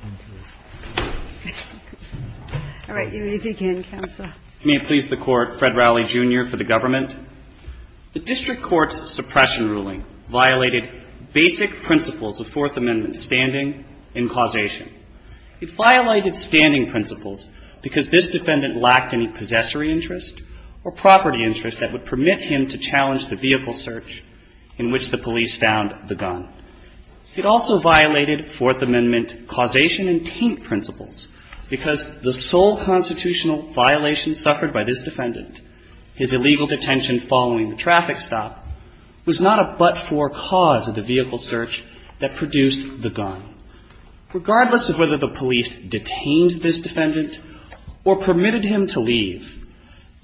May it please the Court, Fred Rowley, Jr. for the Government. The District Court's suppression ruling violated basic principles of Fourth Amendment standing and causation. It violated standing principles because this defendant lacked any possessory interest or property interest that would permit him to challenge the vehicle search in which the vehicle was to be searched. It violated causation and taint principles because the sole constitutional violation suffered by this defendant, his illegal detention following the traffic stop, was not a but-for cause of the vehicle search that produced the gun. Regardless of whether the police detained this defendant or permitted him to leave,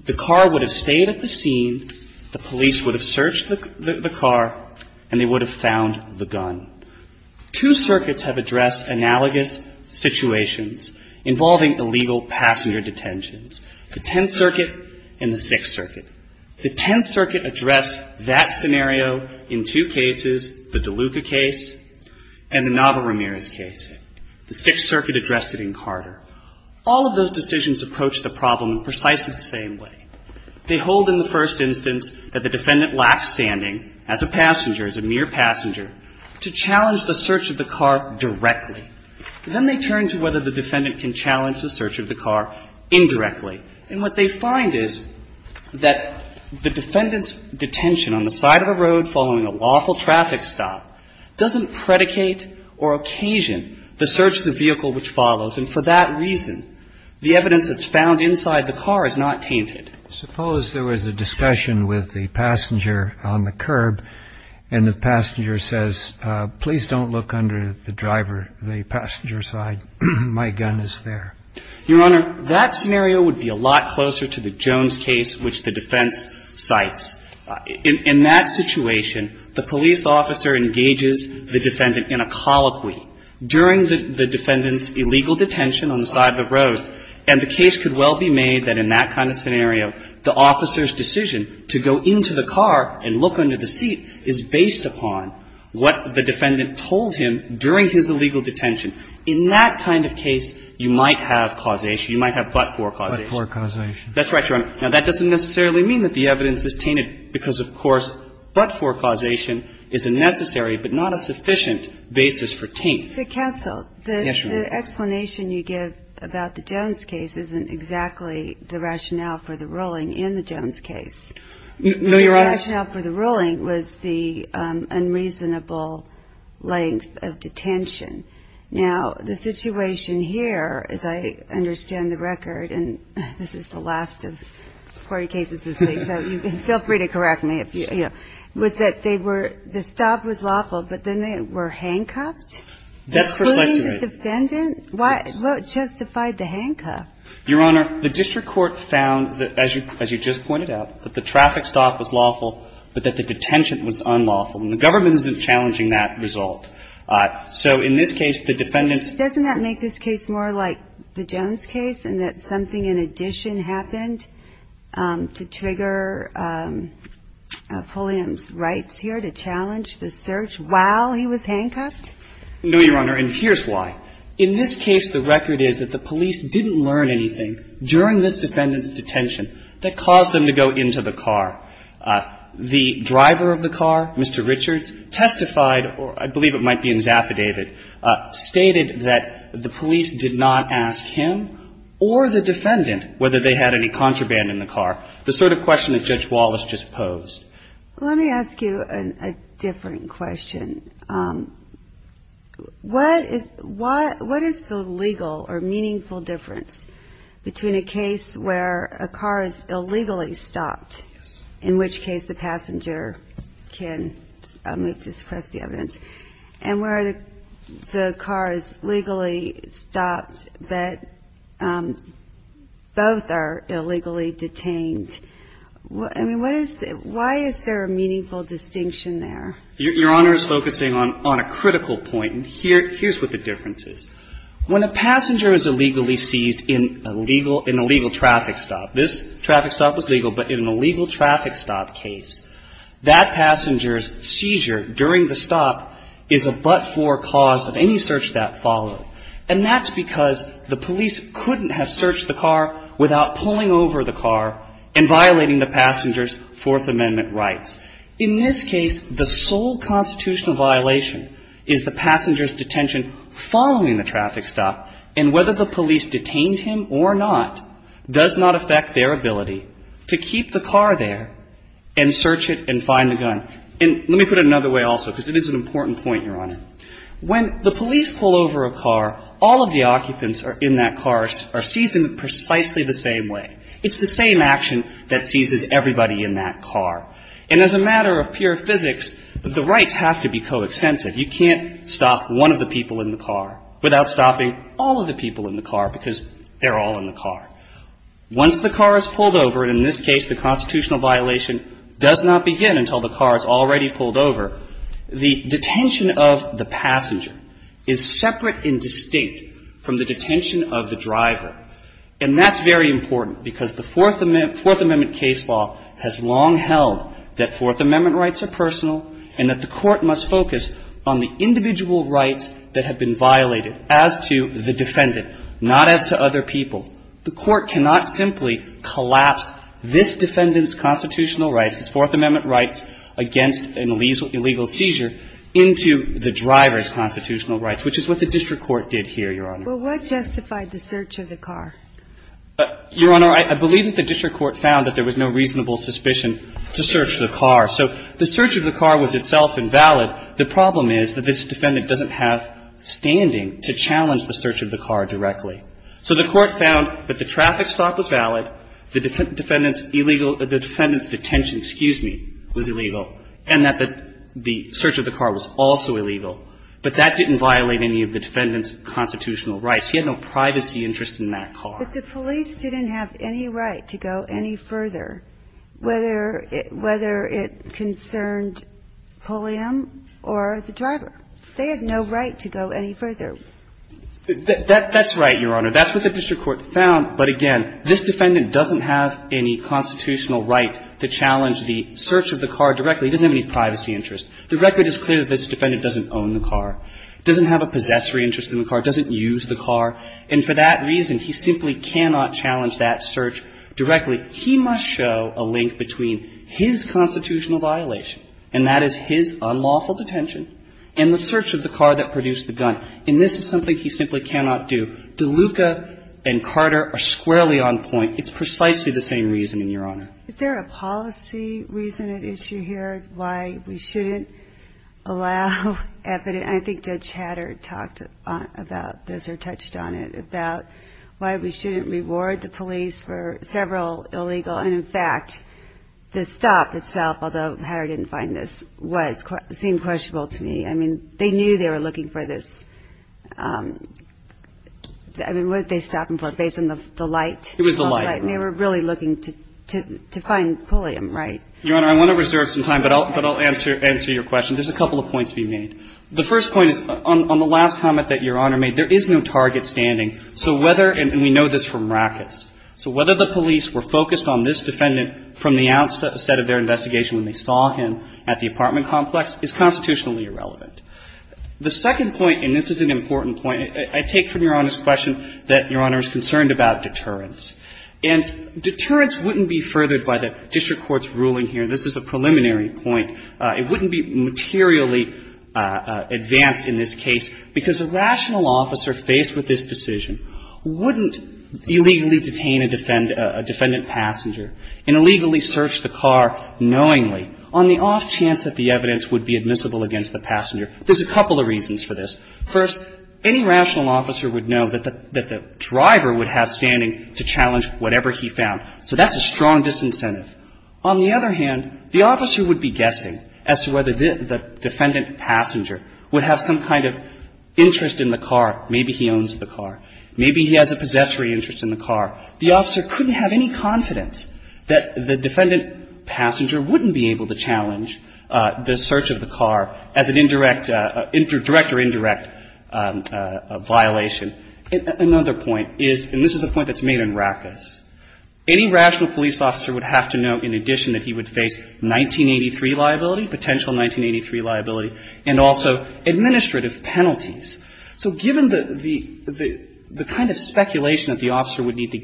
the car would have stayed at the scene, the police would have searched the car, and they would have found the gun. Two circuits have addressed analogous situations involving illegal passenger detentions, the Tenth Circuit and the Sixth Circuit. The Tenth Circuit addressed that scenario in two cases, the DeLuca case and the Nava Ramirez case. The Sixth Circuit addressed it in Carter. All of those decisions approach the problem precisely the same way. They hold in the first instance that the defendant lacked standing as a passenger, as a mere passenger, to challenge the search of the car directly. Then they turn to whether the defendant can challenge the search of the car indirectly. And what they find is that the defendant's detention on the side of the road following a lawful traffic stop doesn't predicate or occasion the search of the vehicle which follows, and for that reason, the evidence that's found inside the car is not tainted. Suppose there was a discussion with the passenger on the curb, and the passenger says, please don't look under the driver, the passenger side. My gun is there. Your Honor, that scenario would be a lot closer to the Jones case which the defense cites. In that situation, the police officer engages the defendant in a colloquy during the defendant's illegal detention on the side of the road, and the case could well be made that in that kind of scenario, the officer's decision to go into the car and look under the seat is based upon what the defendant told him during his illegal detention. In that kind of case, you might have causation. You might have but-for causation. But-for causation. That's right, Your Honor. Now, that doesn't necessarily mean that the evidence is tainted because, of course, but-for causation is a necessary but not a sufficient basis for taint. But, counsel, the explanation you give about the Jones case isn't exactly the rationale for the ruling in the Jones case. No, Your Honor. The rationale for the ruling was the unreasonable length of detention. Now, the situation here, as I understand the record, and this is the last of 40 cases this week, so feel free to correct me if, you know, was that they were-the stop was lawful, but then they were handcuffed? That's precisely right. Including the defendant? What justified the handcuff? Your Honor, the district court found, as you just pointed out, that the traffic stop was lawful, but that the detention was unlawful. And the government isn't challenging that result. So, in this case, the defendants- Doesn't that make this case more like the Jones case in that something in addition happened to trigger Pulliam's rights here to challenge the search while he was handcuffed? No, Your Honor, and here's why. In this case, the record is that the police didn't learn anything during this defendant's detention that caused them to go into the car. The driver of the car, Mr. Richards, testified, or I believe it might be in his affidavit, stated that the police did not ask him or the defendant whether they had any contraband in the car, the sort of question that Judge Wallace just posed. Let me ask you a different question. What is the legal or meaningful difference between a case where a car is illegally stopped, in which case the passenger can move to suppress the evidence, and where the car is legally stopped, but both are illegally detained? I mean, what is the – why is there a meaningful distinction there? Your Honor is focusing on a critical point, and here's what the difference is. When a passenger is illegally seized in a legal – in a legal traffic stop, this traffic stop was legal, but in a legal traffic stop case, that passenger's detention followed the traffic stop, and whether the police detained him or not does not affect their ability to keep the car there and search it and find the gun. And let me put it another way also, because it is an important point, Your Honor. When the police pull over a car, all of a sudden, the driver of the car, Mr. Richards, all of the occupants in that car are seized in precisely the same way. It's the same action that seizes everybody in that car. And as a matter of pure physics, the rights have to be coextensive. You can't stop one of the people in the car without stopping all of the people in the car, because they're all in the car. Once the car is pulled over, and in this case the constitutional violation does not begin until the car is already pulled over, the detention of the passenger is separate and distinct from the detention of the driver. And that's very important because the Fourth Amendment case law has long held that Fourth Amendment rights are personal and that the Court must focus on the individual rights that have been violated as to the defendant, not as to other people. The Court cannot simply collapse this defendant's constitutional rights, his Fourth Amendment rights against an illegal seizure, into the driver's constitutional rights, which is what the district court did here, Your Honor. Well, what justified the search of the car? Your Honor, I believe that the district court found that there was no reasonable suspicion to search the car. So the search of the car was itself invalid. The problem is that this defendant doesn't have standing to challenge the search of the car directly. So the Court found that the traffic stop was valid, the defendant's illegal – the defendant's detention, excuse me, was illegal, and that the search of the car was also illegal. But that didn't violate any of the defendant's constitutional rights. He had no privacy interest in that car. But the police didn't have any right to go any further, whether it concerned Pulliam or the driver. They had no right to go any further. That's right, Your Honor. That's what the district court found. But again, this defendant doesn't have any constitutional right to challenge the search of the car directly. He doesn't have any privacy interest. The record is clear that this defendant doesn't own the car, doesn't have a possessory interest in the car, doesn't use the car. And for that reason, he simply cannot challenge that search directly. He must show a link between his constitutional violation, and that is his unlawful detention, and the search of the car that produced the gun. And this is something he simply cannot do. DeLuca and Carter are squarely on point. It's precisely the same reason, Your Honor. Is there a policy reason at issue here as to why we shouldn't allow evidence? I think Judge Hatter talked about this or touched on it, about why we shouldn't reward the police for several illegal. And in fact, the stop itself, although Hatter didn't find this, seemed questionable to me. I mean, they knew they were looking for this. I mean, what did they stop him for? Based on the light? It was the light. And they were really looking to find Pulliam, right? Your Honor, I want to reserve some time, but I'll answer your question. There's a couple of points to be made. The first point is, on the last comment that Your Honor made, there is no target standing. So whether, and we know this from rackets, so whether the police were focused on this defendant from the outset of their investigation when they saw him at the apartment complex is constitutionally irrelevant. The second point, and this is an important point, I take from Your Honor's question that Your Honor is concerned about deterrence. And deterrence wouldn't be furthered by the district court's ruling here. This is a preliminary point. It wouldn't be materially advanced in this case because a rational officer faced with this decision wouldn't illegally detain a defendant, a defendant passenger and illegally search the car knowingly on the off chance that the evidence would be admissible against the passenger. There's a couple of reasons for this. First, any rational officer would know that the driver would have standing to challenge whatever he found. So that's a strong disincentive. On the other hand, the officer would be guessing as to whether the defendant passenger would have some kind of interest in the car. Maybe he owns the car. Maybe he has a possessory interest in the car. The officer couldn't have any confidence that the defendant passenger wouldn't be able to challenge the search of the car as an indirect, direct or indirect violation. Another point is, and this is a point that's made in Rackus, any rational police officer would have to know in addition that he would face 1983 liability, potential 1983 liability, and also administrative penalties. So given the kind of speculation that the officer would need to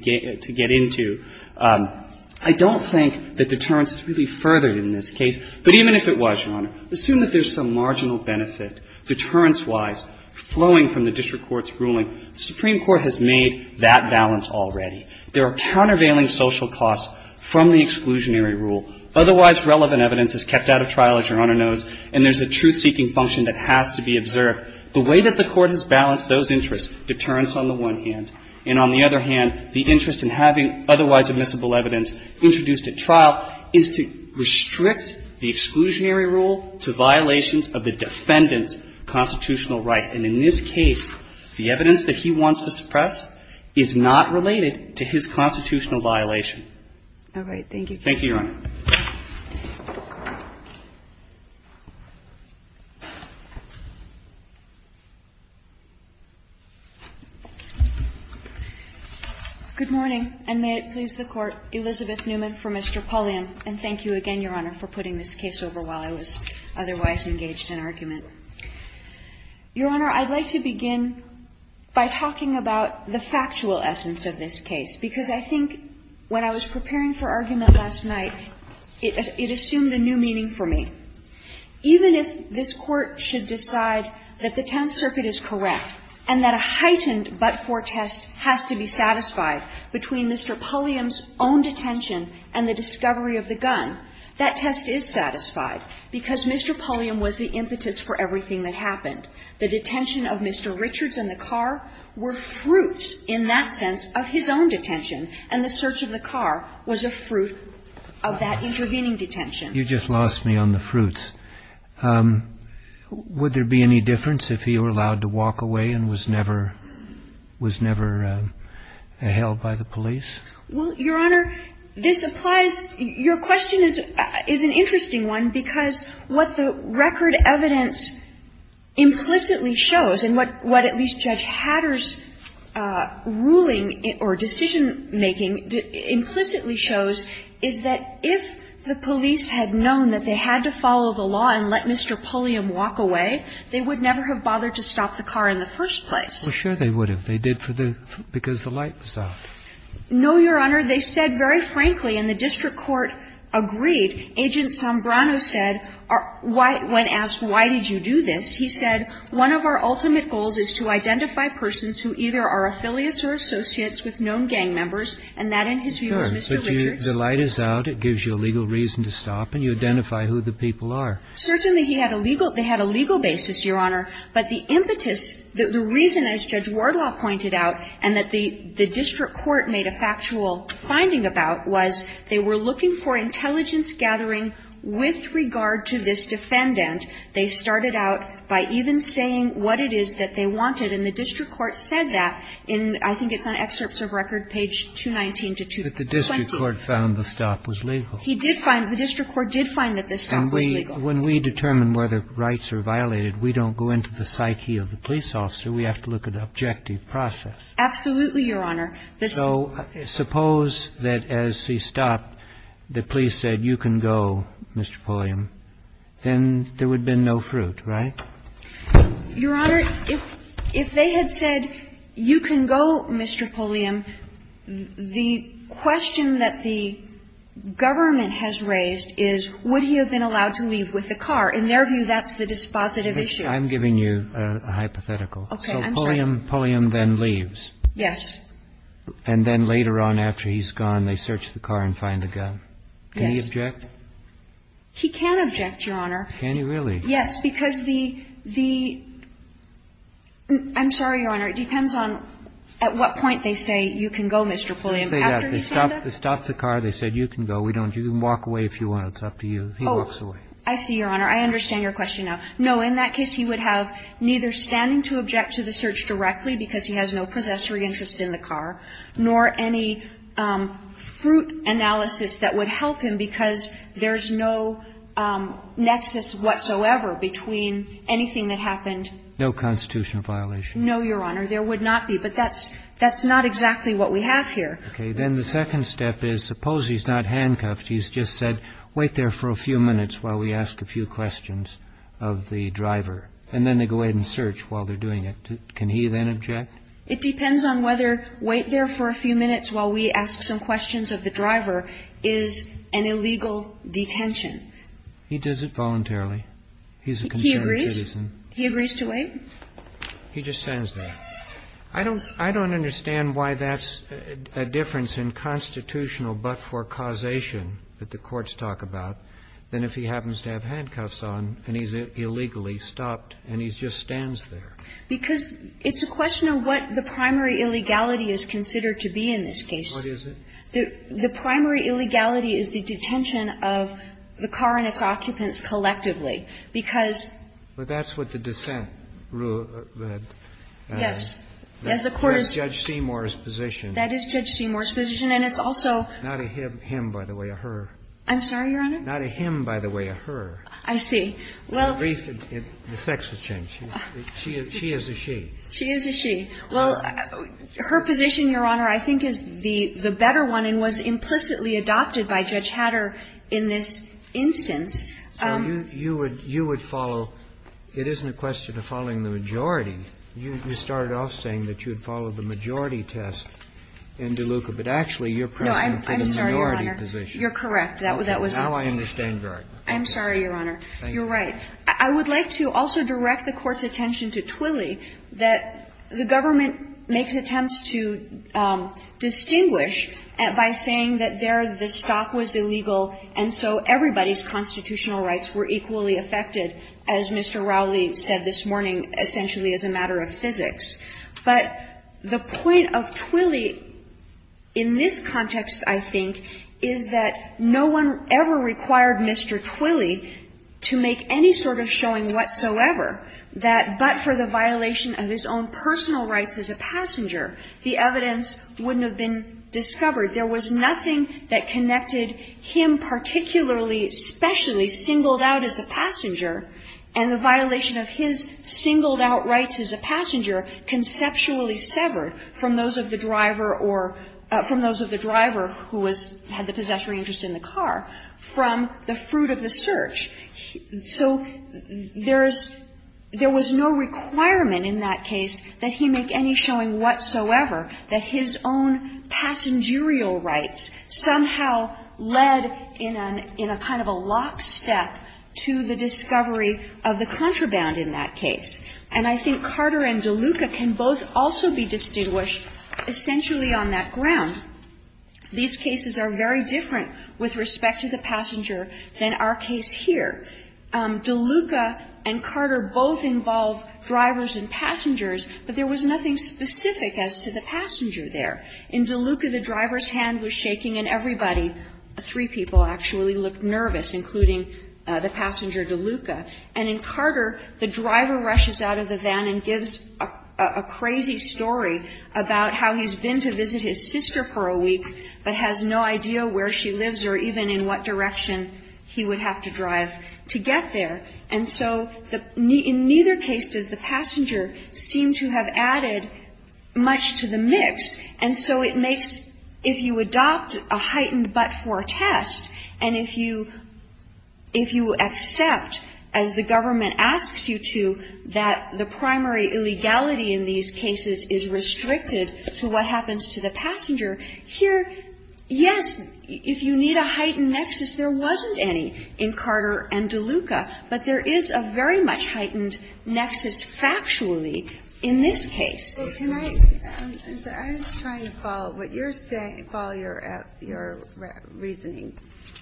get into, I don't think that deterrence is really furthered in this case. But even if it was, Your Honor, assume that there's some marginal benefit deterrence-wise flowing from the district court's ruling. The Supreme Court has made that balance already. There are countervailing social costs from the exclusionary rule. Otherwise relevant evidence is kept out of trial, as Your Honor knows, and there's a truth-seeking function that has to be observed. The way that the Court has balanced those interests, deterrence on the one hand, and on the other hand, the interest in having otherwise admissible evidence introduced at trial, is to restrict the exclusionary rule to violations of the defendant's constitutional rights. And in this case, the evidence that he wants to suppress is not related to his constitutional violation. All right. Thank you. Thank you, Your Honor. Good morning, and may it please the Court. Elizabeth Newman for Mr. Pulliam. And thank you again, Your Honor, for putting this case over while I was otherwise engaged in argument. Your Honor, I'd like to begin by talking about the factual essence of this case, because I think when I was preparing for argument last night, it assumed a new meaning for me. Even if this Court should decide that the Tenth Circuit is correct and that a heightened but-for test has to be satisfied between Mr. Pulliam's own detention and the discovery of the gun, that test is satisfied because Mr. Pulliam was the impetus for everything that happened. The detention of Mr. Richards and the car were fruits in that sense of his own detention, and the search of the car was a fruit of that intervening detention. You just lost me on the fruits. Would there be any difference if he were allowed to walk away and was never held by the police? Well, Your Honor, this applies. Your question is an interesting one, because what the record evidence implicitly shows, and what at least Judge Hatter's ruling or decision-making implicitly shows, is that if the police had known that they had to follow the law and let Mr. Pulliam walk away, they would never have bothered to stop the car in the first place. Well, sure they would have. They did because the light was off. No, Your Honor. They said very frankly, and the district court agreed, Agent Sombrano said, when asked, why did you do this, he said, one of our ultimate goals is to identify persons who either are affiliates or associates with known gang members, and that in his view was Mr. Richards. But the light is out, it gives you a legal reason to stop, and you identify who the people are. Certainly he had a legal – they had a legal basis, Your Honor, but the impetus The reason, as Judge Wardlaw pointed out, and that the district court made a factual finding about, was they were looking for intelligence gathering with regard to this defendant. They started out by even saying what it is that they wanted, and the district court said that in, I think it's on excerpts of record, page 219 to 220. But the district court found the stop was legal. He did find – the district court did find that the stop was legal. But when we determine whether rights are violated, we don't go into the psyche of the police officer. We have to look at the objective process. Absolutely, Your Honor. So suppose that as he stopped, the police said, you can go, Mr. Pulliam, then there would have been no fruit, right? Your Honor, if they had said, you can go, Mr. Pulliam, the question that the government has raised is, would he have been allowed to leave with the car? In their view, that's the dispositive issue. I'm giving you a hypothetical. Okay, I'm sorry. So Pulliam then leaves. Yes. And then later on after he's gone, they search the car and find the gun. Yes. Can he object? He can object, Your Honor. Can he really? Yes, because the – I'm sorry, Your Honor. It depends on at what point they say, you can go, Mr. Pulliam. After he's gone, though? They stopped the car. They said, you can go. We don't – you can walk away if you want. It's up to you. He walks away. Oh, I see, Your Honor. I understand your question now. No, in that case, he would have neither standing to object to the search directly because he has no possessory interest in the car, nor any fruit analysis that would help him because there's no nexus whatsoever between anything that happened. No constitutional violation. No, Your Honor. There would not be. But that's not exactly what we have here. Okay. Then the second step is suppose he's not handcuffed. He's just said, wait there for a few minutes while we ask a few questions of the driver. And then they go ahead and search while they're doing it. Can he then object? It depends on whether wait there for a few minutes while we ask some questions of the driver is an illegal detention. He does it voluntarily. He's a concerned citizen. He agrees? He agrees to wait? He just stands there. I don't understand why that's a difference in constitutional but-for causation that the courts talk about than if he happens to have handcuffs on and he's illegally stopped and he just stands there. Because it's a question of what the primary illegality is considered to be in this case. What is it? The primary illegality is the detention of the car and its occupants collectively. Because that's what the dissent rule said. You can't have a private property. Yes. As the court is going to say. That's Judge Seymour's position. That is Judge Seymour's position. And it's also. Not a him, by the way, a her. I'm sorry, Your Honor? Not a him, by the way, a her. I see. The brief in the sex was changed. She is a she. She is a she. Well, her position, Your Honor, I think is the better one and was implicitly adopted by Judge Hatter in this instance. So you would follow. It isn't a question of following the majority. You started off saying that you would follow the majority test in DeLuca, but actually you're pressing for the minority position. No, I'm sorry, Your Honor. You're correct. That was. Now I understand your argument. I'm sorry, Your Honor. Thank you. You're right. I would like to also direct the Court's attention to Twilley, that the government makes attempts to distinguish by saying that there the stock was illegal and so everybody's constitutional rights were equally affected, as Mr. Rowley said this morning, essentially as a matter of physics. But the point of Twilley in this context, I think, is that no one ever required Mr. Twilley to make any sort of showing whatsoever that but for the violation of his own personal rights as a passenger, the evidence wouldn't have been discovered. There was nothing that connected him particularly, especially singled out as a passenger, and the violation of his singled out rights as a passenger conceptually severed from those of the driver or from those of the driver who had the possessory interest in the car from the fruit of the search. So there is no requirement in that case that he make any showing whatsoever that his own passengerial rights somehow led in a kind of a lockstep to the discovery of the contraband in that case. And I think Carter and DeLuca can both also be distinguished essentially on that ground. These cases are very different with respect to the passenger than our case here. DeLuca and Carter both involve drivers and passengers, but there was nothing specific as to the passenger there. In DeLuca, the driver's hand was shaking and everybody, three people actually, looked nervous, including the passenger DeLuca. And in Carter, the driver rushes out of the van and gives a crazy story about how he's been to visit his sister for a week but has no idea where she lives or even in what direction he would have to drive to get there. And so in neither case does the passenger seem to have added much to the mix. And so it makes, if you adopt a heightened but-for test, and if you accept, as the government asks you to, that the primary illegality in these cases is restricted to what happens to the passenger, here, yes, if you need a heightened nexus, there wasn't any in Carter and DeLuca. But there is a very much heightened nexus factually in this case. I'm just trying to follow what you're saying, follow your reasoning.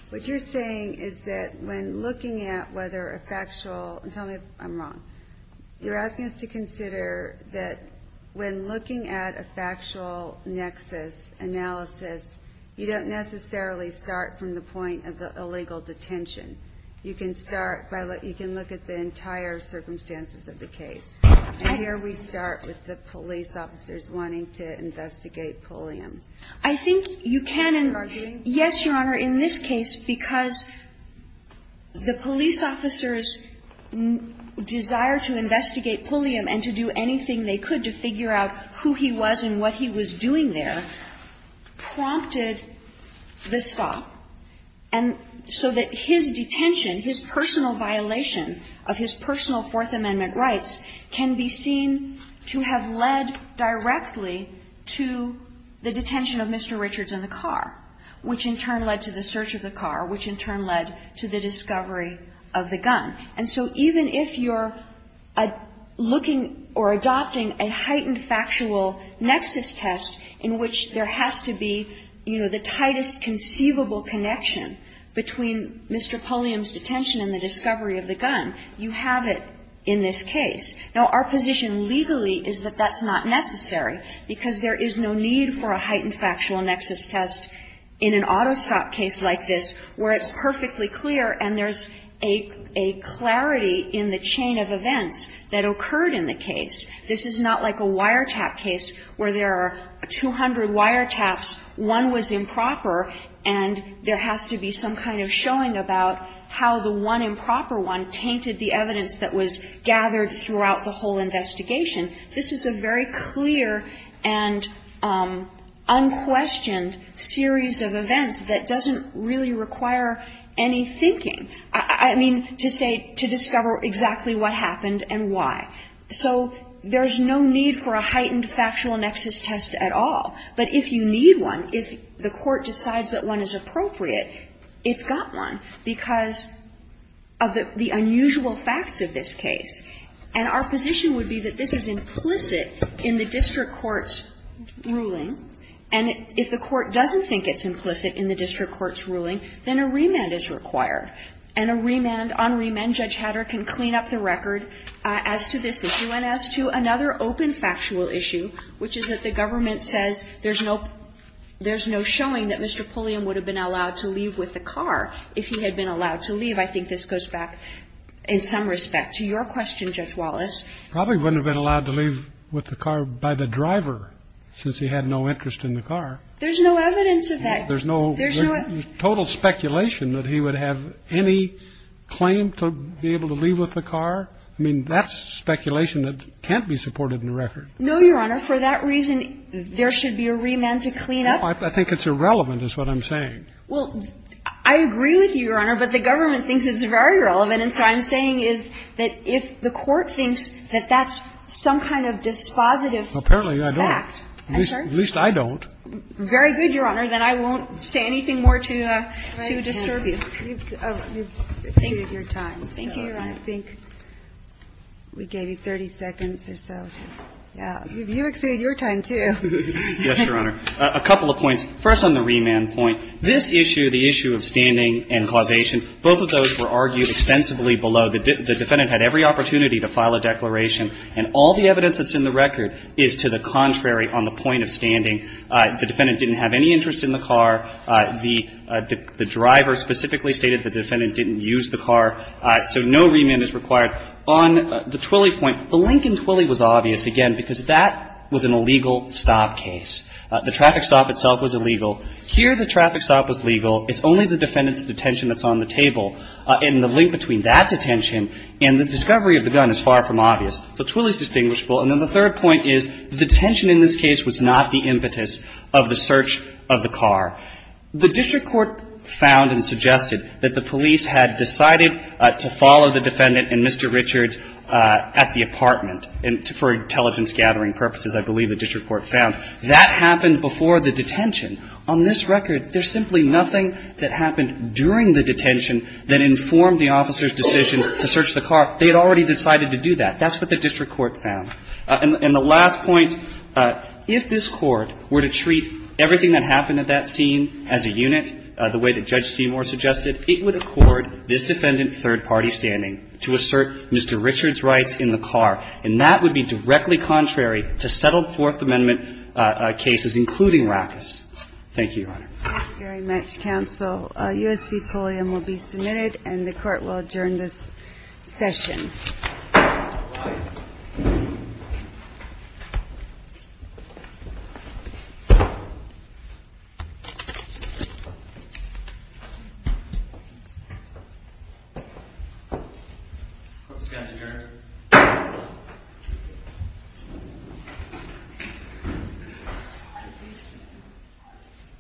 What you're saying is that when looking at whether a factual, and tell me if I'm wrong, you're asking us to consider that when looking at a factual nexus analysis, you don't necessarily start from the point of the illegal detention. You can start by, you can look at the entire circumstances of the case. And here we start with the police officers wanting to investigate Pulliam. Are you arguing? Yes, Your Honor. In this case, because the police officers' desire to investigate Pulliam and to do anything they could to figure out who he was and what he was doing there prompted the stop. And so that his detention, his personal violation of his personal Fourth Amendment rights can be seen to have led directly to the detention of Mr. Richards in the car, which in turn led to the search of the car, which in turn led to the discovery of the gun. And so even if you're looking or adopting a heightened factual nexus test in which there has to be, you know, the tightest conceivable connection between Mr. Pulliam's detention and the discovery of the gun, you have it in this case. Now, our position legally is that that's not necessary, because there is no need for a heightened factual nexus test in an auto stop case like this, where it's perfectly clear and there's a clarity in the chain of events that occurred in the case. This is not like a wiretap case where there are 200 wiretaps, one was improper, and there has to be some kind of showing about how the one improper one tainted the evidence that was gathered throughout the whole investigation. This is a very clear and unquestioned series of events that doesn't really require any thinking. I mean, to say, to discover exactly what happened and why. So there's no need for a heightened factual nexus test at all. But if you need one, if the Court decides that one is appropriate, it's got one, because of the unusual facts of this case. And our position would be that this is implicit in the district court's ruling. And if the Court doesn't think it's implicit in the district court's ruling, then a remand is required. And a remand, on remand, Judge Hatter can clean up the record as to this issue And then as to another open factual issue, which is that the government says there's no showing that Mr. Pulliam would have been allowed to leave with the car if he had been allowed to leave, I think this goes back, in some respect, to your question, Judge Wallace. Probably wouldn't have been allowed to leave with the car by the driver, since he had no interest in the car. There's no evidence of that. There's no total speculation that he would have any claim to be able to leave with the car. I mean, that's speculation that can't be supported in the record. No, Your Honor. For that reason, there should be a remand to clean up. No. I think it's irrelevant is what I'm saying. Well, I agree with you, Your Honor, but the government thinks it's very relevant. And so I'm saying is that if the Court thinks that that's some kind of dispositive fact, I'm sure. Apparently, I don't. At least I don't. Very good, Your Honor. Then I won't say anything more to disturb you. Thank you, Your Honor. Thank you, Your Honor. I think we gave you 30 seconds or so. Yeah. You exceeded your time, too. Yes, Your Honor. A couple of points. First on the remand point, this issue, the issue of standing and causation, both of those were argued extensively below. The defendant had every opportunity to file a declaration, and all the evidence that's in the record is to the contrary on the point of standing. The defendant didn't have any interest in the car. The driver specifically stated the defendant didn't use the car. So no remand is required. On the Twilley point, the link in Twilley was obvious, again, because that was an illegal stop case. The traffic stop itself was illegal. Here the traffic stop was legal. It's only the defendant's detention that's on the table. And the link between that detention and the discovery of the gun is far from obvious. So Twilley's distinguishable. And then the third point is the detention in this case was not the impetus of the search of the car. The district court found and suggested that the police had decided to follow the defendant and Mr. Richards at the apartment for intelligence gathering purposes, I believe the district court found. That happened before the detention. On this record, there's simply nothing that happened during the detention that informed the officer's decision to search the car. They had already decided to do that. That's what the district court found. And the last point, if this Court were to treat everything that happened at that scene as a unit, the way that Judge Seymour suggested, it would accord this defendant third-party standing to assert Mr. Richards' rights in the car. And that would be directly contrary to settled Fourth Amendment cases, including Rackett's. Thank you, Your Honor. Thank you very much, Counsel. A U.S. v. Pulliam will be submitted, and the Court will adjourn this session.